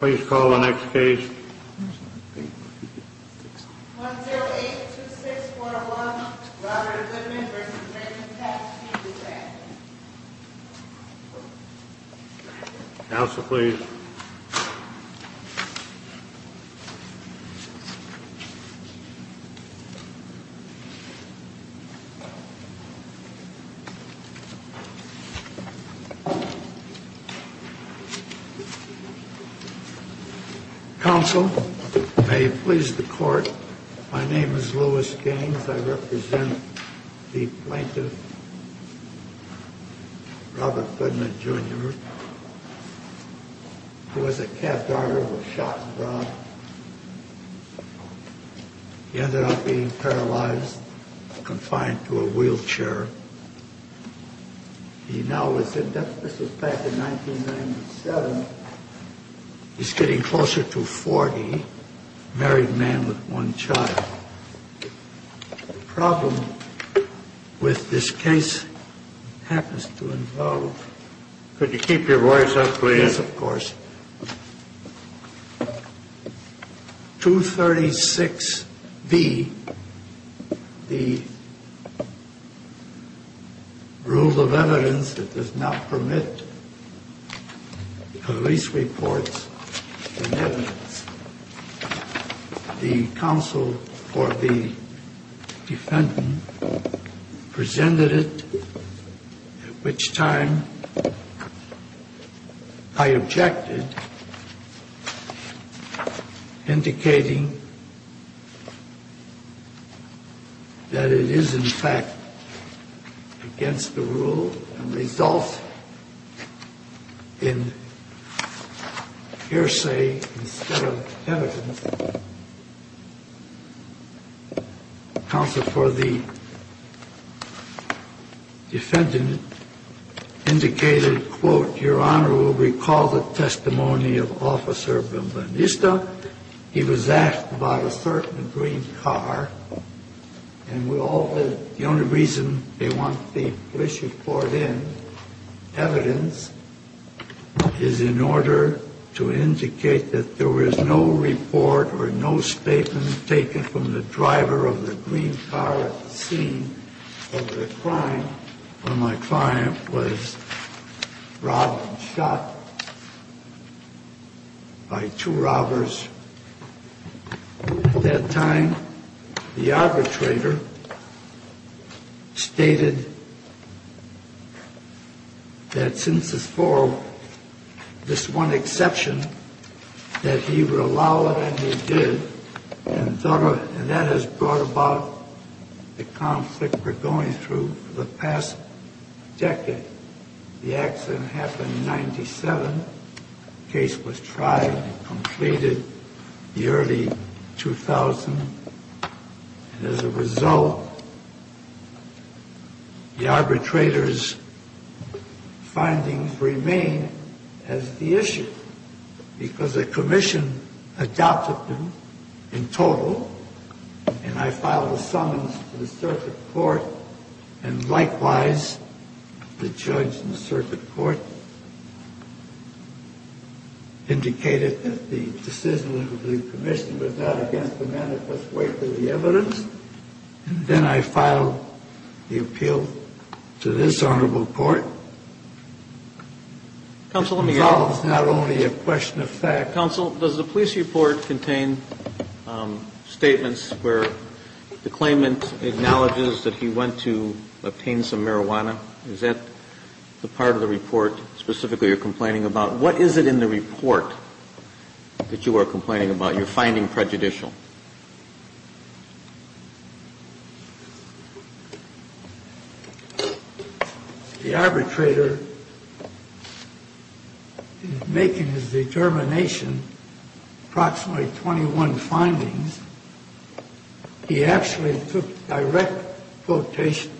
Please call the next case. 10826401 Robert Goodman v. American Taxi Dispatch Counsel, please. Counsel, may you please the court. My name is Louis Gaines. I represent the plaintiff, Robert Goodman, Jr., who was a cab driver who was shot and robbed. He ended up being paralyzed, confined to a wheelchair. He now lives in Memphis. This was back in 1997. He's getting closer to 40. Married man with one child. The problem with this case happens to involve... Could you keep your voice up, please? Yes, of course. 236B, the rule of evidence that does not permit police reports and evidence. The counsel or the defendant presented it, at which time I objected, indicating that it is, in fact, against the rule and results in hearsay instead of evidence. Counsel, for the defendant, indicated, quote, Your Honor will recall the testimony of Officer Belenista. He was asked about a certain green car. And the only reason they want the police report in, evidence, is in order to indicate that there was no report or no statement taken from the driver of the green car at the scene of the crime when my client was robbed and shot by two robbers. At that time, the arbitrator stated that since this forum, this one exception, that he would allow it and he did. And that has brought about the conflict we're going through for the past decade. The accident happened in 97. The case was tried and completed in the early 2000. And as a result, the arbitrator's findings remain as the issue because the commission adopted them in total. And I filed a summons to the circuit court. And likewise, the judge in the circuit court indicated that the decision of the commission was not against the manifest weight of the evidence. And then I filed the appeal to this honorable court. Counsel, let me ask. It involves not only a question of fact. Counsel, does the police report contain statements where the claimant acknowledges that he went to obtain some marijuana? Is that the part of the report specifically you're complaining about? What is it in the report that you are complaining about? You're finding prejudicial. The arbitrator making his determination, approximately 21 findings. He actually took direct quotations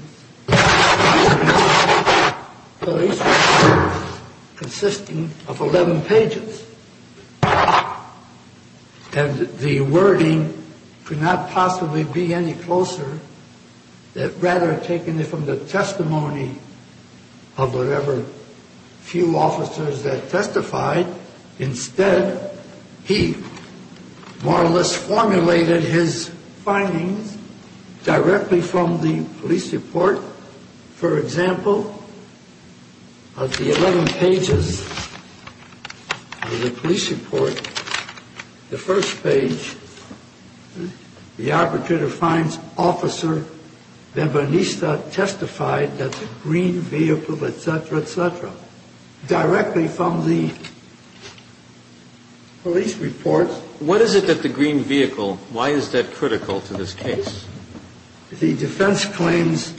consisting of 11 pages. And the wording could not possibly be any closer. Rather taking it from the testimony of whatever few officers that testified. Instead, he more or less formulated his findings directly from the police report. For example, of the 11 pages of the police report, the first page, the arbitrator finds officer Benvanista testified that the green vehicle, etc., etc. Directly from the police report. What is it that the green vehicle, why is that critical to this case? The defense claims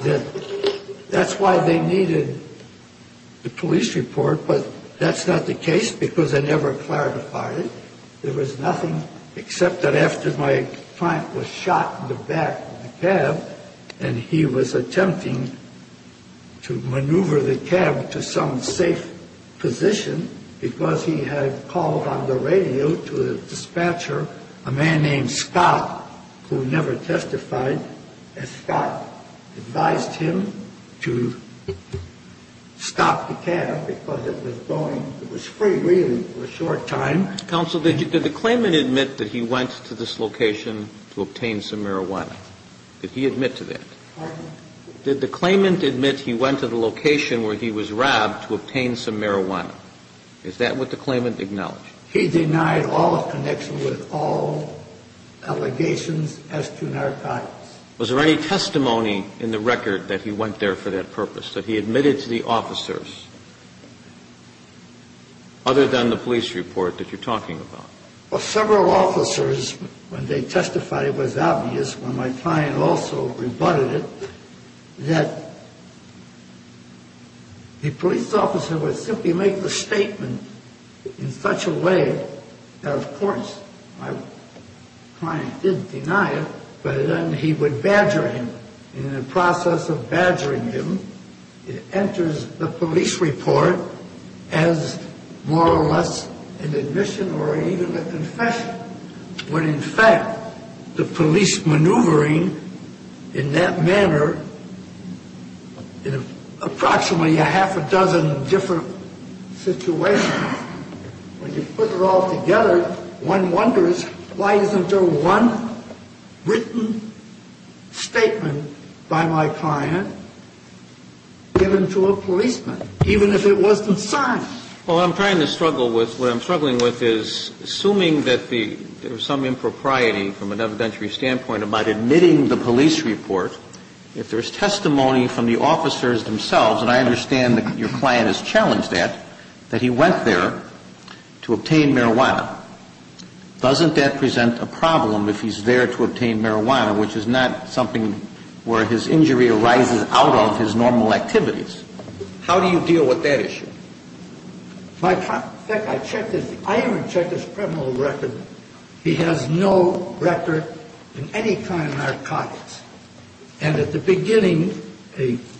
that that's why they needed the police report. But that's not the case because they never clarified it. There was nothing except that after my client was shot in the back of the cab and he was attempting to maneuver the cab to some safe position because he had called on the radio to a dispatcher, a man named Scott, who never testified, and Scott advised him to stop the cab because it was going, it was free really for a short time. Counsel, did the claimant admit that he went to this location to obtain some marijuana? Did he admit to that? Pardon? Did the claimant admit he went to the location where he was robbed to obtain some marijuana? Is that what the claimant acknowledged? He denied all connection with all allegations as to narcotics. Was there any testimony in the record that he went there for that purpose, that he admitted to the officers other than the police report that you're talking about? Well, several officers, when they testified, it was obvious, when my client also rebutted it, that the police officer would simply make the statement in such a way that, of course, my client didn't deny it, but then he would badger him, and in the process of badgering him, it enters the police report as more or less an admission or even a confession, when in fact the police maneuvering in that manner in approximately a half a dozen different situations, when you put it all together, one wonders, why isn't there one written statement by my client given to a policeman, even if it wasn't signed? Well, what I'm trying to struggle with, what I'm struggling with is, assuming that there was some impropriety from an evidentiary standpoint about admitting the police report, if there's testimony from the officers themselves, and I understand that your client has challenged that, that he went there to obtain marijuana, doesn't that present a problem if he's there to obtain marijuana, which is not something where his injury arises out of his normal activities? How do you deal with that issue? In fact, I even checked his criminal record. He has no record in any kind of narcotics, and at the beginning,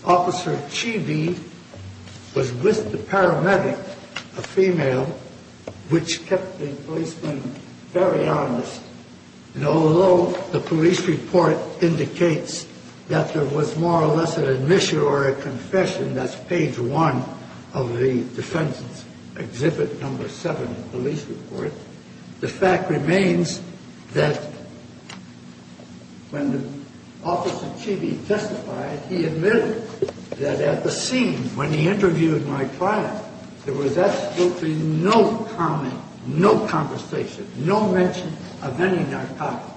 Officer Cheevee was with the paramedic, a female, which kept the policeman very honest, and although the police report indicates that there was more or less an admission or a confession, that's page one of the Defendant's Exhibit No. 7 police report, the fact remains that when Officer Cheevee testified, he admitted that at the scene when he interviewed my client, there was absolutely no comment, no conversation, no mention of any narcotics.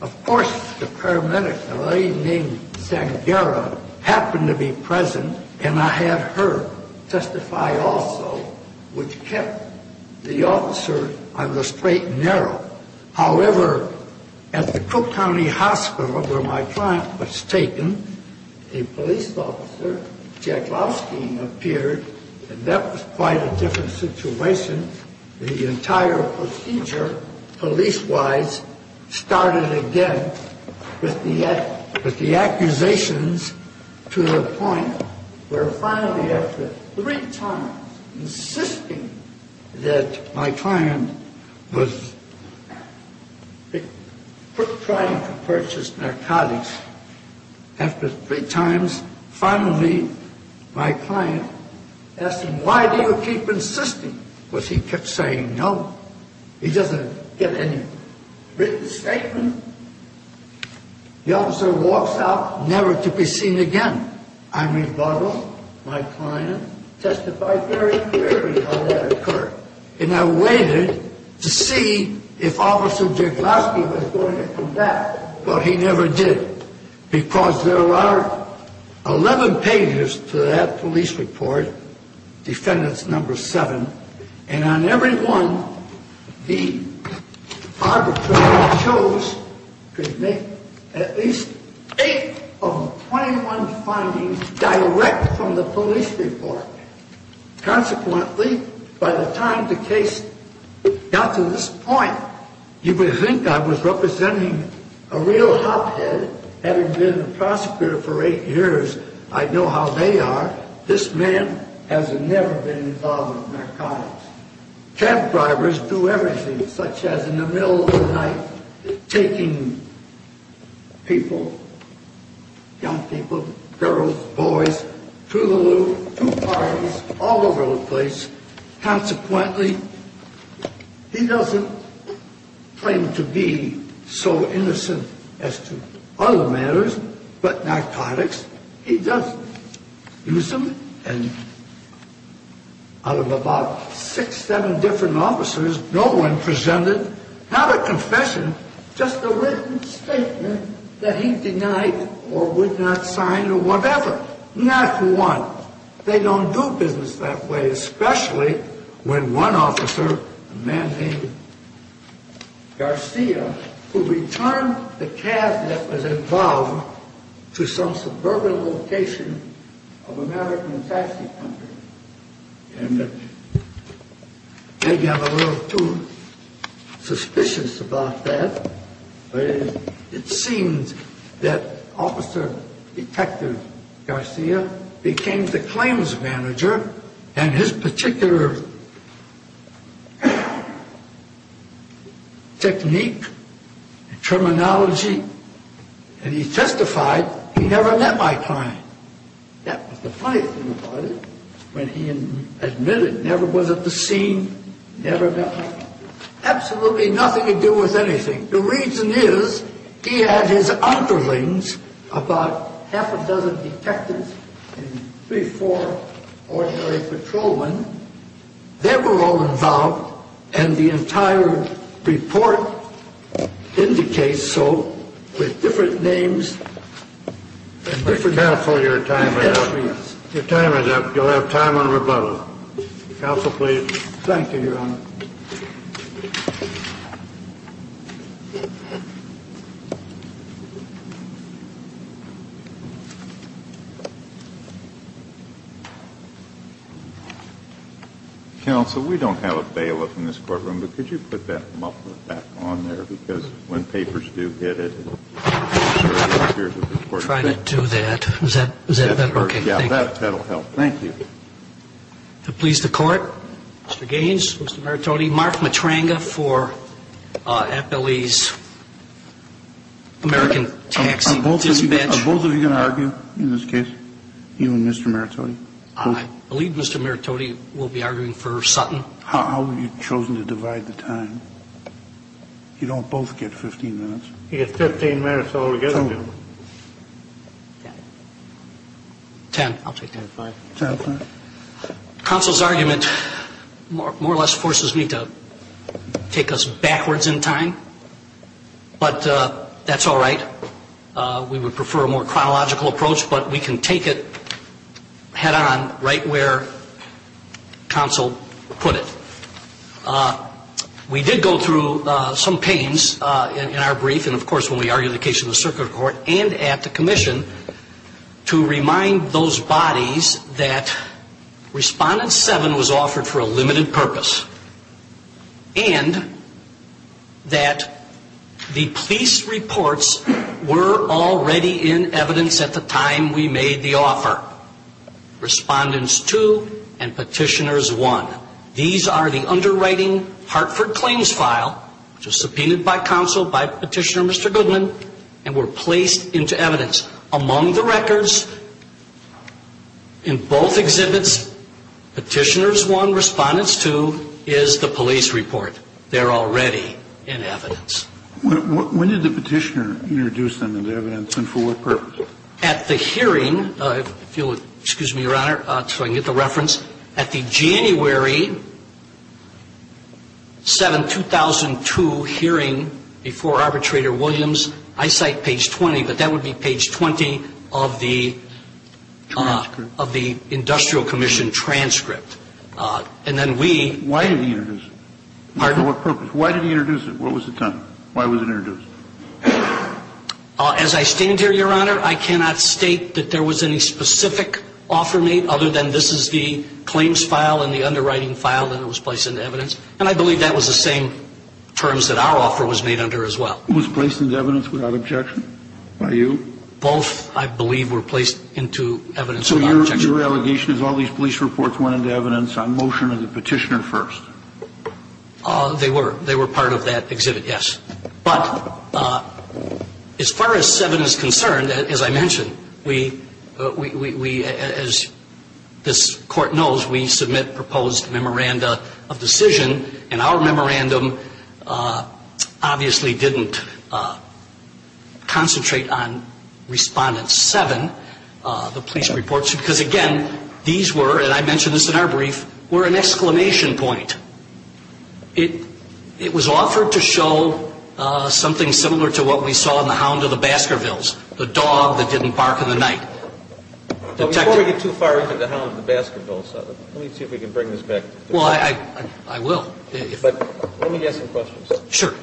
Of course, the paramedic, a lady named Sangara, happened to be present, and I had her testify also, which kept the officer on the straight and narrow. However, at the Cook County Hospital, where my client was taken, a police officer, Jack Lowski, appeared, and that was quite a different situation. The entire procedure, police-wise, started again with the accusations to the point where finally, after three times insisting that my client was trying to purchase narcotics, after three times, finally, my client asked him, why do you keep insisting? Of course, he kept saying no. He doesn't get any written statement. The officer walks out, never to be seen again. I rebuttal, my client testified very clearly how that occurred, and I waited to see if Officer Jack Lowski was going to come back, but he never did, because there are 11 pages to that police report, defendant's number seven, and on every one, the arbitrator chose to make at least eight of the 21 findings direct from the police report. Consequently, by the time the case got to this point, you would think I was representing a real hophead, having been a prosecutor for eight years, I know how they are. This man has never been involved in narcotics. Cab drivers do everything, such as in the middle of the night, taking people, young people, girls, boys, to the loo, to parties, all over the place. Consequently, he doesn't claim to be so innocent as to other matters, but narcotics, he does use them, and out of about six, seven different officers, no one presented, not a confession, just a written statement that he denied or would not sign or whatever, not one. They don't do business that way, especially when one officer, a man named Garcia, who returned the cab that was involved to some suburban location of American taxi company, and maybe I'm a little too suspicious about that, but it seems that Officer Detective Garcia became the claims manager and his particular technique, terminology, and he testified, he never met my client. That was the funny thing about it, when he admitted, never was at the scene, never met my client. Absolutely nothing to do with anything. The reason is, he had his underlings, about half a dozen detectives, and three, four ordinary patrolmen, they were all involved, and the entire report indicates so, with different names. Counsel, your time is up. Your time is up. You'll have time on rebuttal. Counsel, please. Thank you, Your Honor. Counsel, we don't have a bailiff in this courtroom, but could you put that muffler back on there? Because when papers do get it, it appears that the court is going to have to do it. I'm trying to do that. Is that working? Yeah, that will help. Thank you. The police, the court. Mr. Merritt. Mr. Merritt. Mr. Merritt. Mr. Merritt. Mr. Merritt. Mr. Merritt. Mr. Merritt. Mr. Merritt. Mr. Merritttra. 10-2. 10-2. Mr. Merritttra, does he get both 15 or 15 minutes? I'll divide him. Is it the same instance? Isn't it either a transfer or a transfer and the motion can proceed either in this case or that case? Well, he gets two minutes. My understanding is that he still gets to going to one of those services, more or less forces me to take us backwards in time, but that's all right. We would prefer a more chronological approach, but we can take it head on right where counsel put it. We did go through some pains in our brief, and, of course, when we argued the case in the circuit court and at the commission to remind those bodies that Respondent 7 was offered for a limited purpose and that the police reports were already in evidence at the time we made the offer. Respondents 2 and Petitioners 1. These are the underwriting Hartford claims file, which was subpoenaed by counsel, by Petitioner Mr. Goodman, and were placed into evidence. Among the records in both exhibits, Petitioners 1, Respondents 2 is the police report. They're already in evidence. When did the petitioner introduce them into evidence and for what purpose? At the hearing, if you'll excuse me, Your Honor, so I can get the reference. At the January 7, 2002 hearing before Arbitrator Williams, I cite page 20, but that would be page 20 of the industrial commission transcript. And then we – Why did he introduce it? Pardon? For what purpose? Why did he introduce it? What was the time? Why was it introduced? As I stand here, Your Honor, I cannot state that there was any specific offer made, other than this is the claims file and the underwriting file that it was placed into evidence. And I believe that was the same terms that our offer was made under as well. It was placed into evidence without objection by you? Both, I believe, were placed into evidence without objection. So your allegation is all these police reports went into evidence on motion of the petitioner first? They were. They were part of that exhibit, yes. But as far as 7 is concerned, as I mentioned, we – as this court knows, we submit proposed memoranda of decision. And our memorandum obviously didn't concentrate on Respondent 7, the police reports, because, again, these were, and I mentioned this in our brief, were an exclamation point. It was offered to show something similar to what we saw in the Hound of the Baskervilles, the dog that didn't bark in the night. Before we get too far into the Hound of the Baskervilles, let me see if we can bring this back. Well, I will. But let me ask some questions. Sure.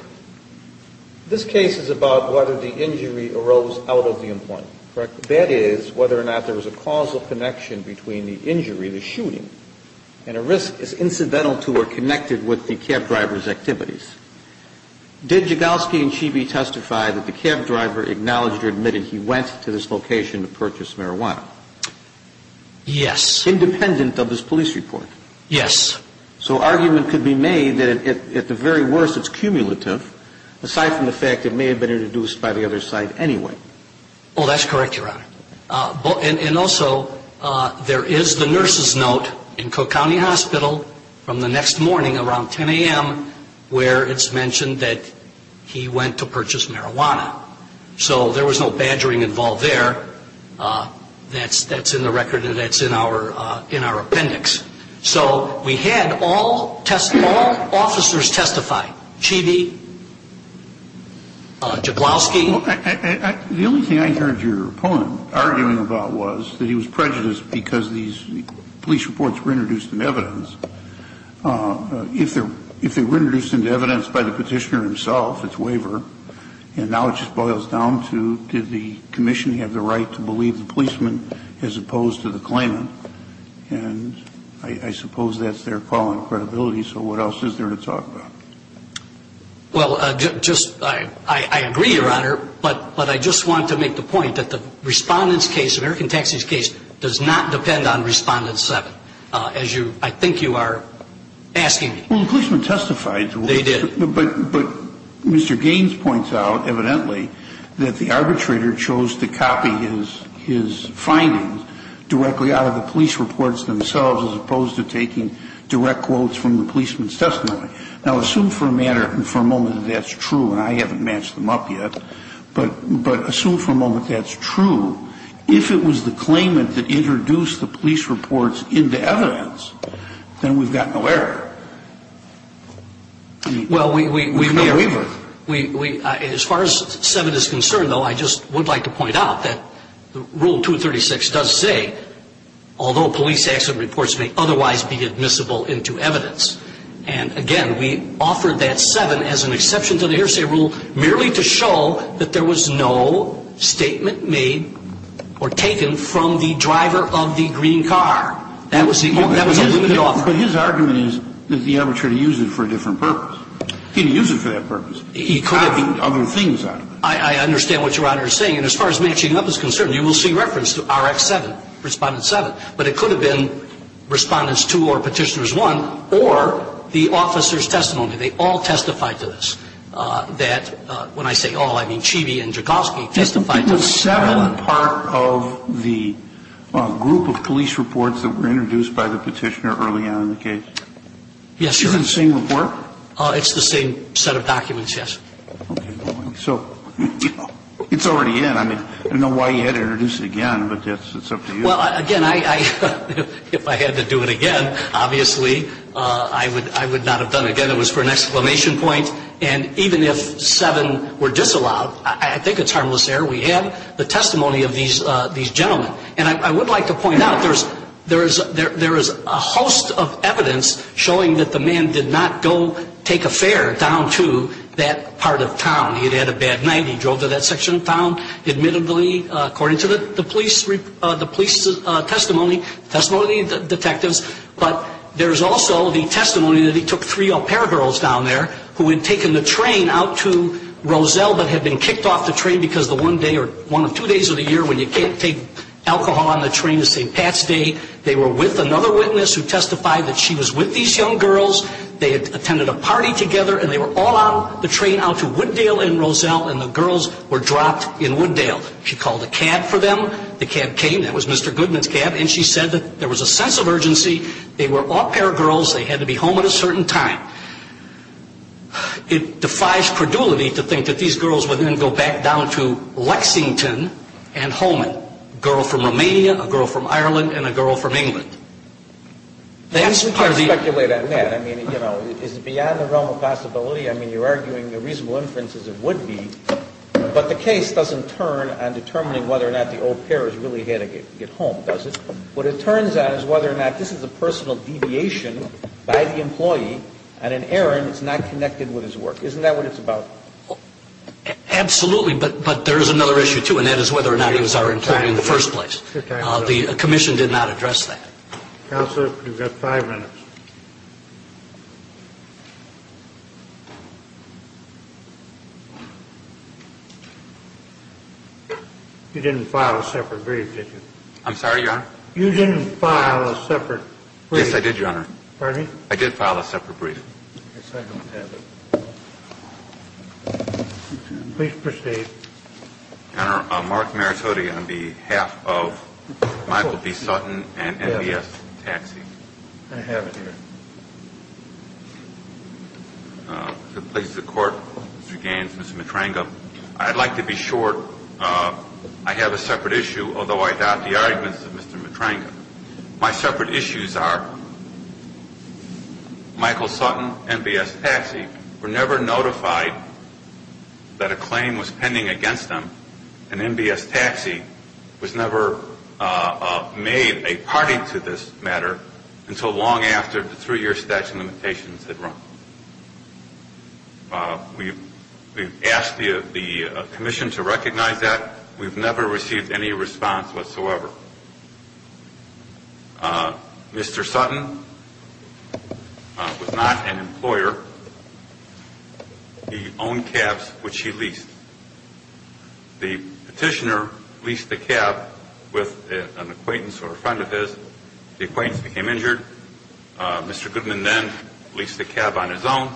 This case is about whether the injury arose out of the employment, correct? That is, whether or not there was a causal connection between the injury, the shooting, and a risk is incidental to or connected with the cab driver's activities. Did Jagowski and Cheeby testify that the cab driver acknowledged or admitted he went to this location to purchase marijuana? Yes. Independent of this police report? Yes. So argument could be made that at the very worst it's cumulative, aside from the fact it may have been introduced by the other side anyway. Oh, that's correct, Your Honor. And also, there is the nurse's note in Cook County Hospital from the next morning around 10 a.m. where it's mentioned that he went to purchase marijuana. So there was no badgering involved there. That's in the record and that's in our appendix. So we had all officers testify, Cheeby, Jagowski. The only thing I heard your opponent arguing about was that he was prejudiced because these police reports were introduced into evidence. If they were introduced into evidence by the petitioner himself, it's waiver, and now it just boils down to, did the commission have the right to believe the policeman as opposed to the claimant? And I suppose that's their call on credibility. So what else is there to talk about? Well, I agree, Your Honor, but I just want to make the point that the Respondent's case, American Taxi's case, does not depend on Respondent 7, as I think you are asking me. Well, the policeman testified. They did. But Mr. Gaines points out, evidently, that the arbitrator chose to copy his findings directly out of the police reports themselves Now, assume for a moment that that's true, and I haven't matched them up yet. But assume for a moment that's true. If it was the claimant that introduced the police reports into evidence, then we've got no error. Well, as far as 7 is concerned, though, I just would like to point out that Rule 236 does say, although police accident reports may otherwise be admissible into evidence, and again, we offer that 7 as an exception to the hearsay rule, merely to show that there was no statement made or taken from the driver of the green car. That was a limited offer. But his argument is that the arbitrator used it for a different purpose. He didn't use it for that purpose. He copied other things out of it. I understand what Your Honor is saying. And as far as matching up is concerned, you will see reference to Rx 7, Respondent 7. But it could have been Respondents 2 or Petitioners 1, or the officer's testimony. They all testified to this. That when I say all, I mean Cheeby and Joukowsky testified to this. Was 7 part of the group of police reports that were introduced by the Petitioner early on in the case? Yes, Your Honor. Is it the same report? It's the same set of documents, yes. Okay. So it's already in. I mean, I don't know why you had to introduce it again, but it's up to you. Well, again, if I had to do it again, obviously I would not have done it again. It was for an exclamation point. And even if 7 were disallowed, I think it's harmless error. We had the testimony of these gentlemen. And I would like to point out there is a host of evidence showing that the man did not go take a fare down to that part of town. He'd had a bad night. He drove to that section of town. Admittedly, according to the police testimony, testimony of the detectives, but there's also the testimony that he took three au pair girls down there who had taken the train out to Roselle but had been kicked off the train because the one day or one of two days of the year when you can't take alcohol on the train is St. Pat's Day. They were with another witness who testified that she was with these young girls. They had attended a party together, and they were all on the train out to Wooddale and Roselle, and the girls were dropped in Wooddale. She called a cab for them. The cab came. That was Mr. Goodman's cab. And she said that there was a sense of urgency. They were au pair girls. They had to be home at a certain time. It defies credulity to think that these girls would then go back down to Lexington and Holman, a girl from Romania, a girl from Ireland, and a girl from England. We can't speculate on that. I mean, you know, is it beyond the realm of possibility? I mean, you're arguing the reasonable inference is it would be, but the case doesn't turn on determining whether or not the au pair has really had to get home, does it? What it turns on is whether or not this is a personal deviation by the employee, and an errand is not connected with his work. Isn't that what it's about? Absolutely, but there is another issue, too, and that is whether or not he was our employee in the first place. The commission did not address that. Counselor, you've got five minutes. You didn't file a separate brief, did you? I'm sorry, Your Honor? You didn't file a separate brief. Yes, I did, Your Honor. Pardon me? I did file a separate brief. Yes, I don't have it. Please proceed. Your Honor, Mark Maratodi on behalf of Michael B. Sutton and MBS Taxi. I have it here. To the place of the Court, Mr. Gaines, Mr. Matranga, I'd like to be short. I have a separate issue, although I doubt the arguments of Mr. Matranga. My separate issues are Michael Sutton and MBS Taxi were never notified that a claim was pending against them, and MBS Taxi was never made a party to this matter until long after the three-year statute of limitations had run. We've asked the commission to recognize that. We've never received any response whatsoever. Mr. Sutton was not an employer. He owned cabs, which he leased. The petitioner leased the cab with an acquaintance or a friend of his. The acquaintance became injured. Mr. Goodman then leased the cab on his own.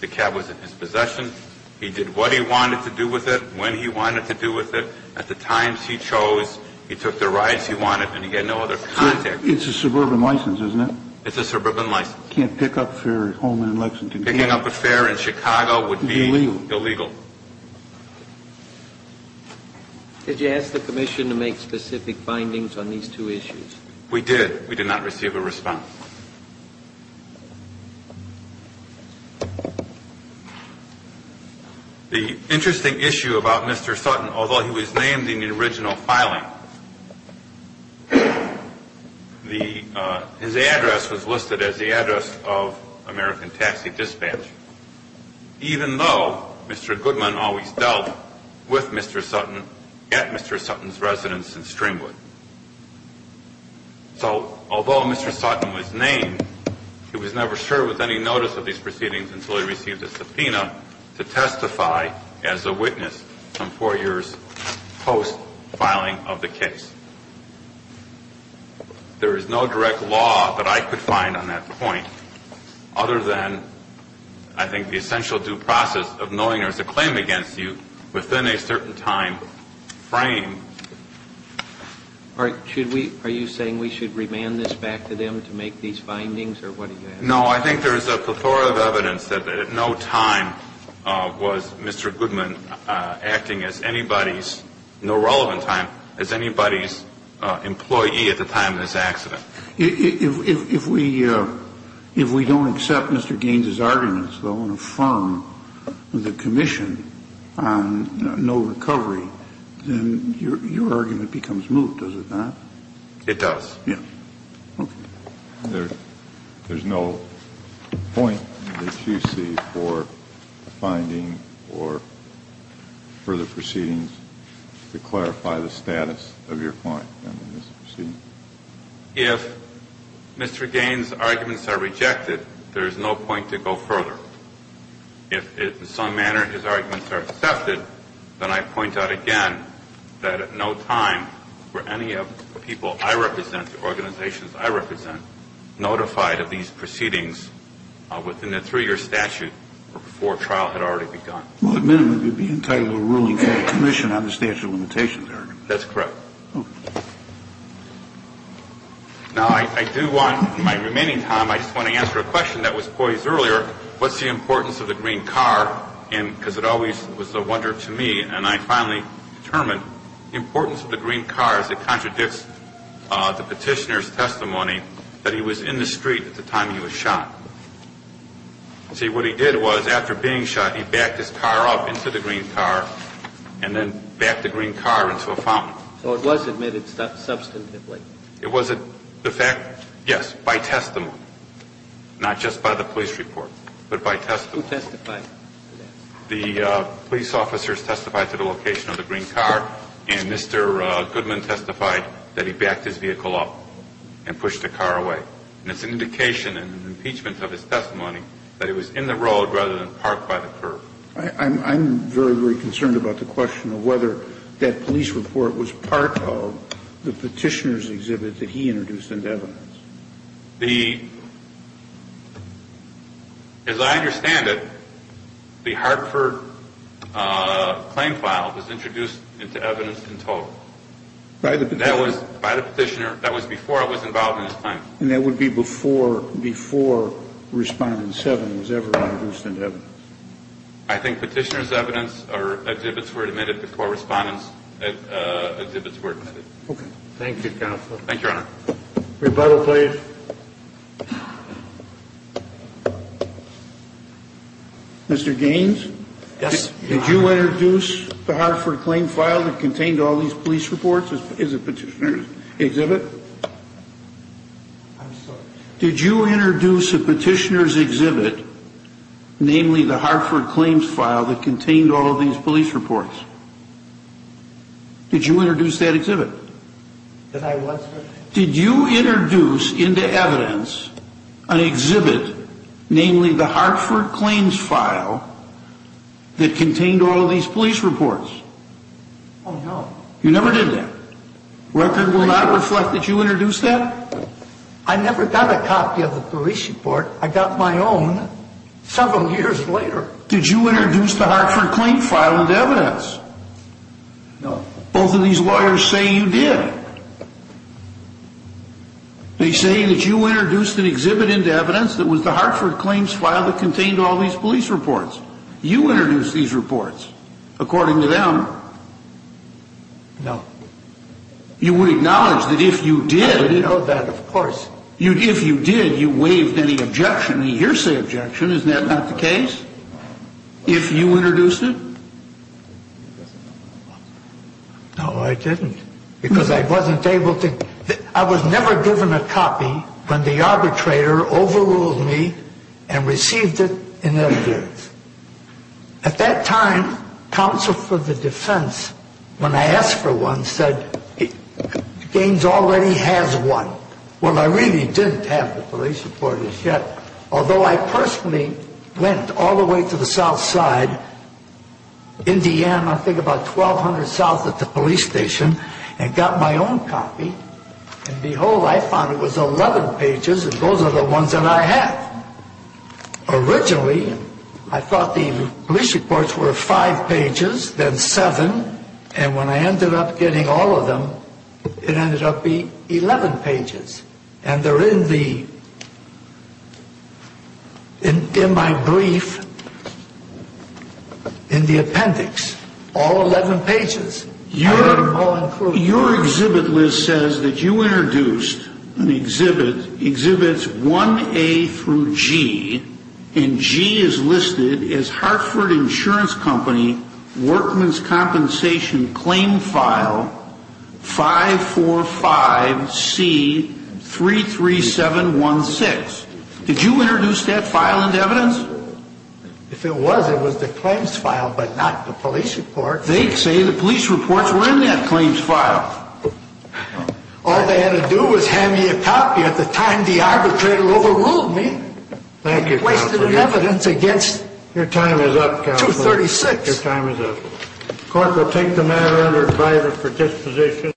The cab was in his possession. He did what he wanted to do with it, when he wanted to do with it. At the times he chose, he took the rights he wanted, and he had no other context. It's a suburban license, isn't it? It's a suburban license. You can't pick up fare at Holman and Lexington. Picking up a fare in Chicago would be illegal. Did you ask the commission to make specific findings on these two issues? We did. We did not receive a response. The interesting issue about Mr. Sutton, although he was named in the original filing, his address was listed as the address of American Taxi Dispatch, even though Mr. Goodman always dealt with Mr. Sutton at Mr. Sutton's residence in Stringwood. So although Mr. Sutton was named, he was never served with any notice of these proceedings until he received a subpoena to testify as a witness some four years post-filing of the case. There is no direct law that I could find on that point, other than I think the essential due process of knowing there's a claim against you within a certain time frame. Are you saying we should remand this back to them to make these findings? No. I think there's a plethora of evidence that at no time was Mr. Goodman acting as anybody's, no relevant time, as anybody's employee at the time of this accident. If we don't accept Mr. Gaines's arguments, though, and affirm the commission on no recovery, then your argument becomes moot, does it not? It does. Yes. Okay. There's no point that you see for finding or for the proceedings to clarify the status of your client in this proceeding? If Mr. Gaines's arguments are rejected, there is no point to go further. If in some manner his arguments are accepted, then I point out again that at no time were any of the people I represent, the organizations I represent, notified of these proceedings within the three-year statute or before trial had already begun. Well, at minimum, it would be entitled to a ruling from the commission on the statute of limitations argument. That's correct. Now, I do want, in my remaining time, I just want to answer a question that was poised earlier. What's the importance of the green car? Because it always was a wonder to me, and I finally determined the importance of the green car as it contradicts the petitioner's testimony that he was in the street at the time he was shot. See, what he did was, after being shot, he backed his car up into the green car and then backed the green car into a fountain. So it was admitted substantively. It was. The fact, yes, by testimony, not just by the police report, but by testimony. Who testified? The police officers testified to the location of the green car, and Mr. Goodman testified that he backed his vehicle up and pushed the car away. And it's an indication in the impeachment of his testimony that he was in the road rather than parked by the curb. I'm very, very concerned about the question of whether that police report was part of the petitioner's exhibit that he introduced into evidence. The, as I understand it, the Hartford claim file was introduced into evidence in total. By the petitioner. By the petitioner. That was before I was involved in his claim. And that would be before Respondent 7 was ever introduced into evidence. I think petitioner's evidence or exhibits were admitted before Respondent's exhibits were admitted. Thank you, Counselor. Thank you, Your Honor. Rebuttal, please. Mr. Gaines? Yes. Did you introduce the Hartford claim file that contained all these police reports as a petitioner's exhibit? I'm sorry? Did you introduce a petitioner's exhibit, namely the Hartford claims file that contained all of these police reports? Did you introduce that exhibit? That I was? Did you introduce into evidence an exhibit, namely the Hartford claims file, that contained all of these police reports? Oh, no. You never did that? Record will not reflect that you introduced that? I never got a copy of the police report. I got my own several years later. Did you introduce the Hartford claim file into evidence? No. Both of these lawyers say you did. They say that you introduced an exhibit into evidence that was the Hartford claims file that contained all these police reports. You introduced these reports, according to them. No. You would acknowledge that if you did... I would know that, of course. If you did, you waived any objection, a hearsay objection. Isn't that not the case? If you introduced it? No, I didn't, because I wasn't able to... I was never given a copy when the arbitrator overruled me and received it in evidence. At that time, counsel for the defense, when I asked for one, said, Gaines already has one. Well, I really didn't have the police report as yet. Although I personally went all the way to the south side, Indiana, I think about 1,200 south at the police station, and got my own copy. And behold, I found it was 11 pages, and those are the ones that I have. Originally, I thought the police reports were five pages, then seven. And when I ended up getting all of them, it ended up being 11 pages. And they're in my brief, in the appendix, all 11 pages. Your exhibit list says that you introduced an exhibit, exhibits 1A through G, and G is listed as Hartford Insurance Company Workman's Compensation Claim File 545C33716. Did you introduce that file into evidence? If it was, it was the claims file, but not the police report. They say the police reports were in that claims file. All they had to do was hand me a copy. At the time, the arbitrator overruled me. Thank you, Counselor. He wasted the evidence against 236. Your time is up, Counselor. Your time is up. The court will take the matter under advisory for disposition.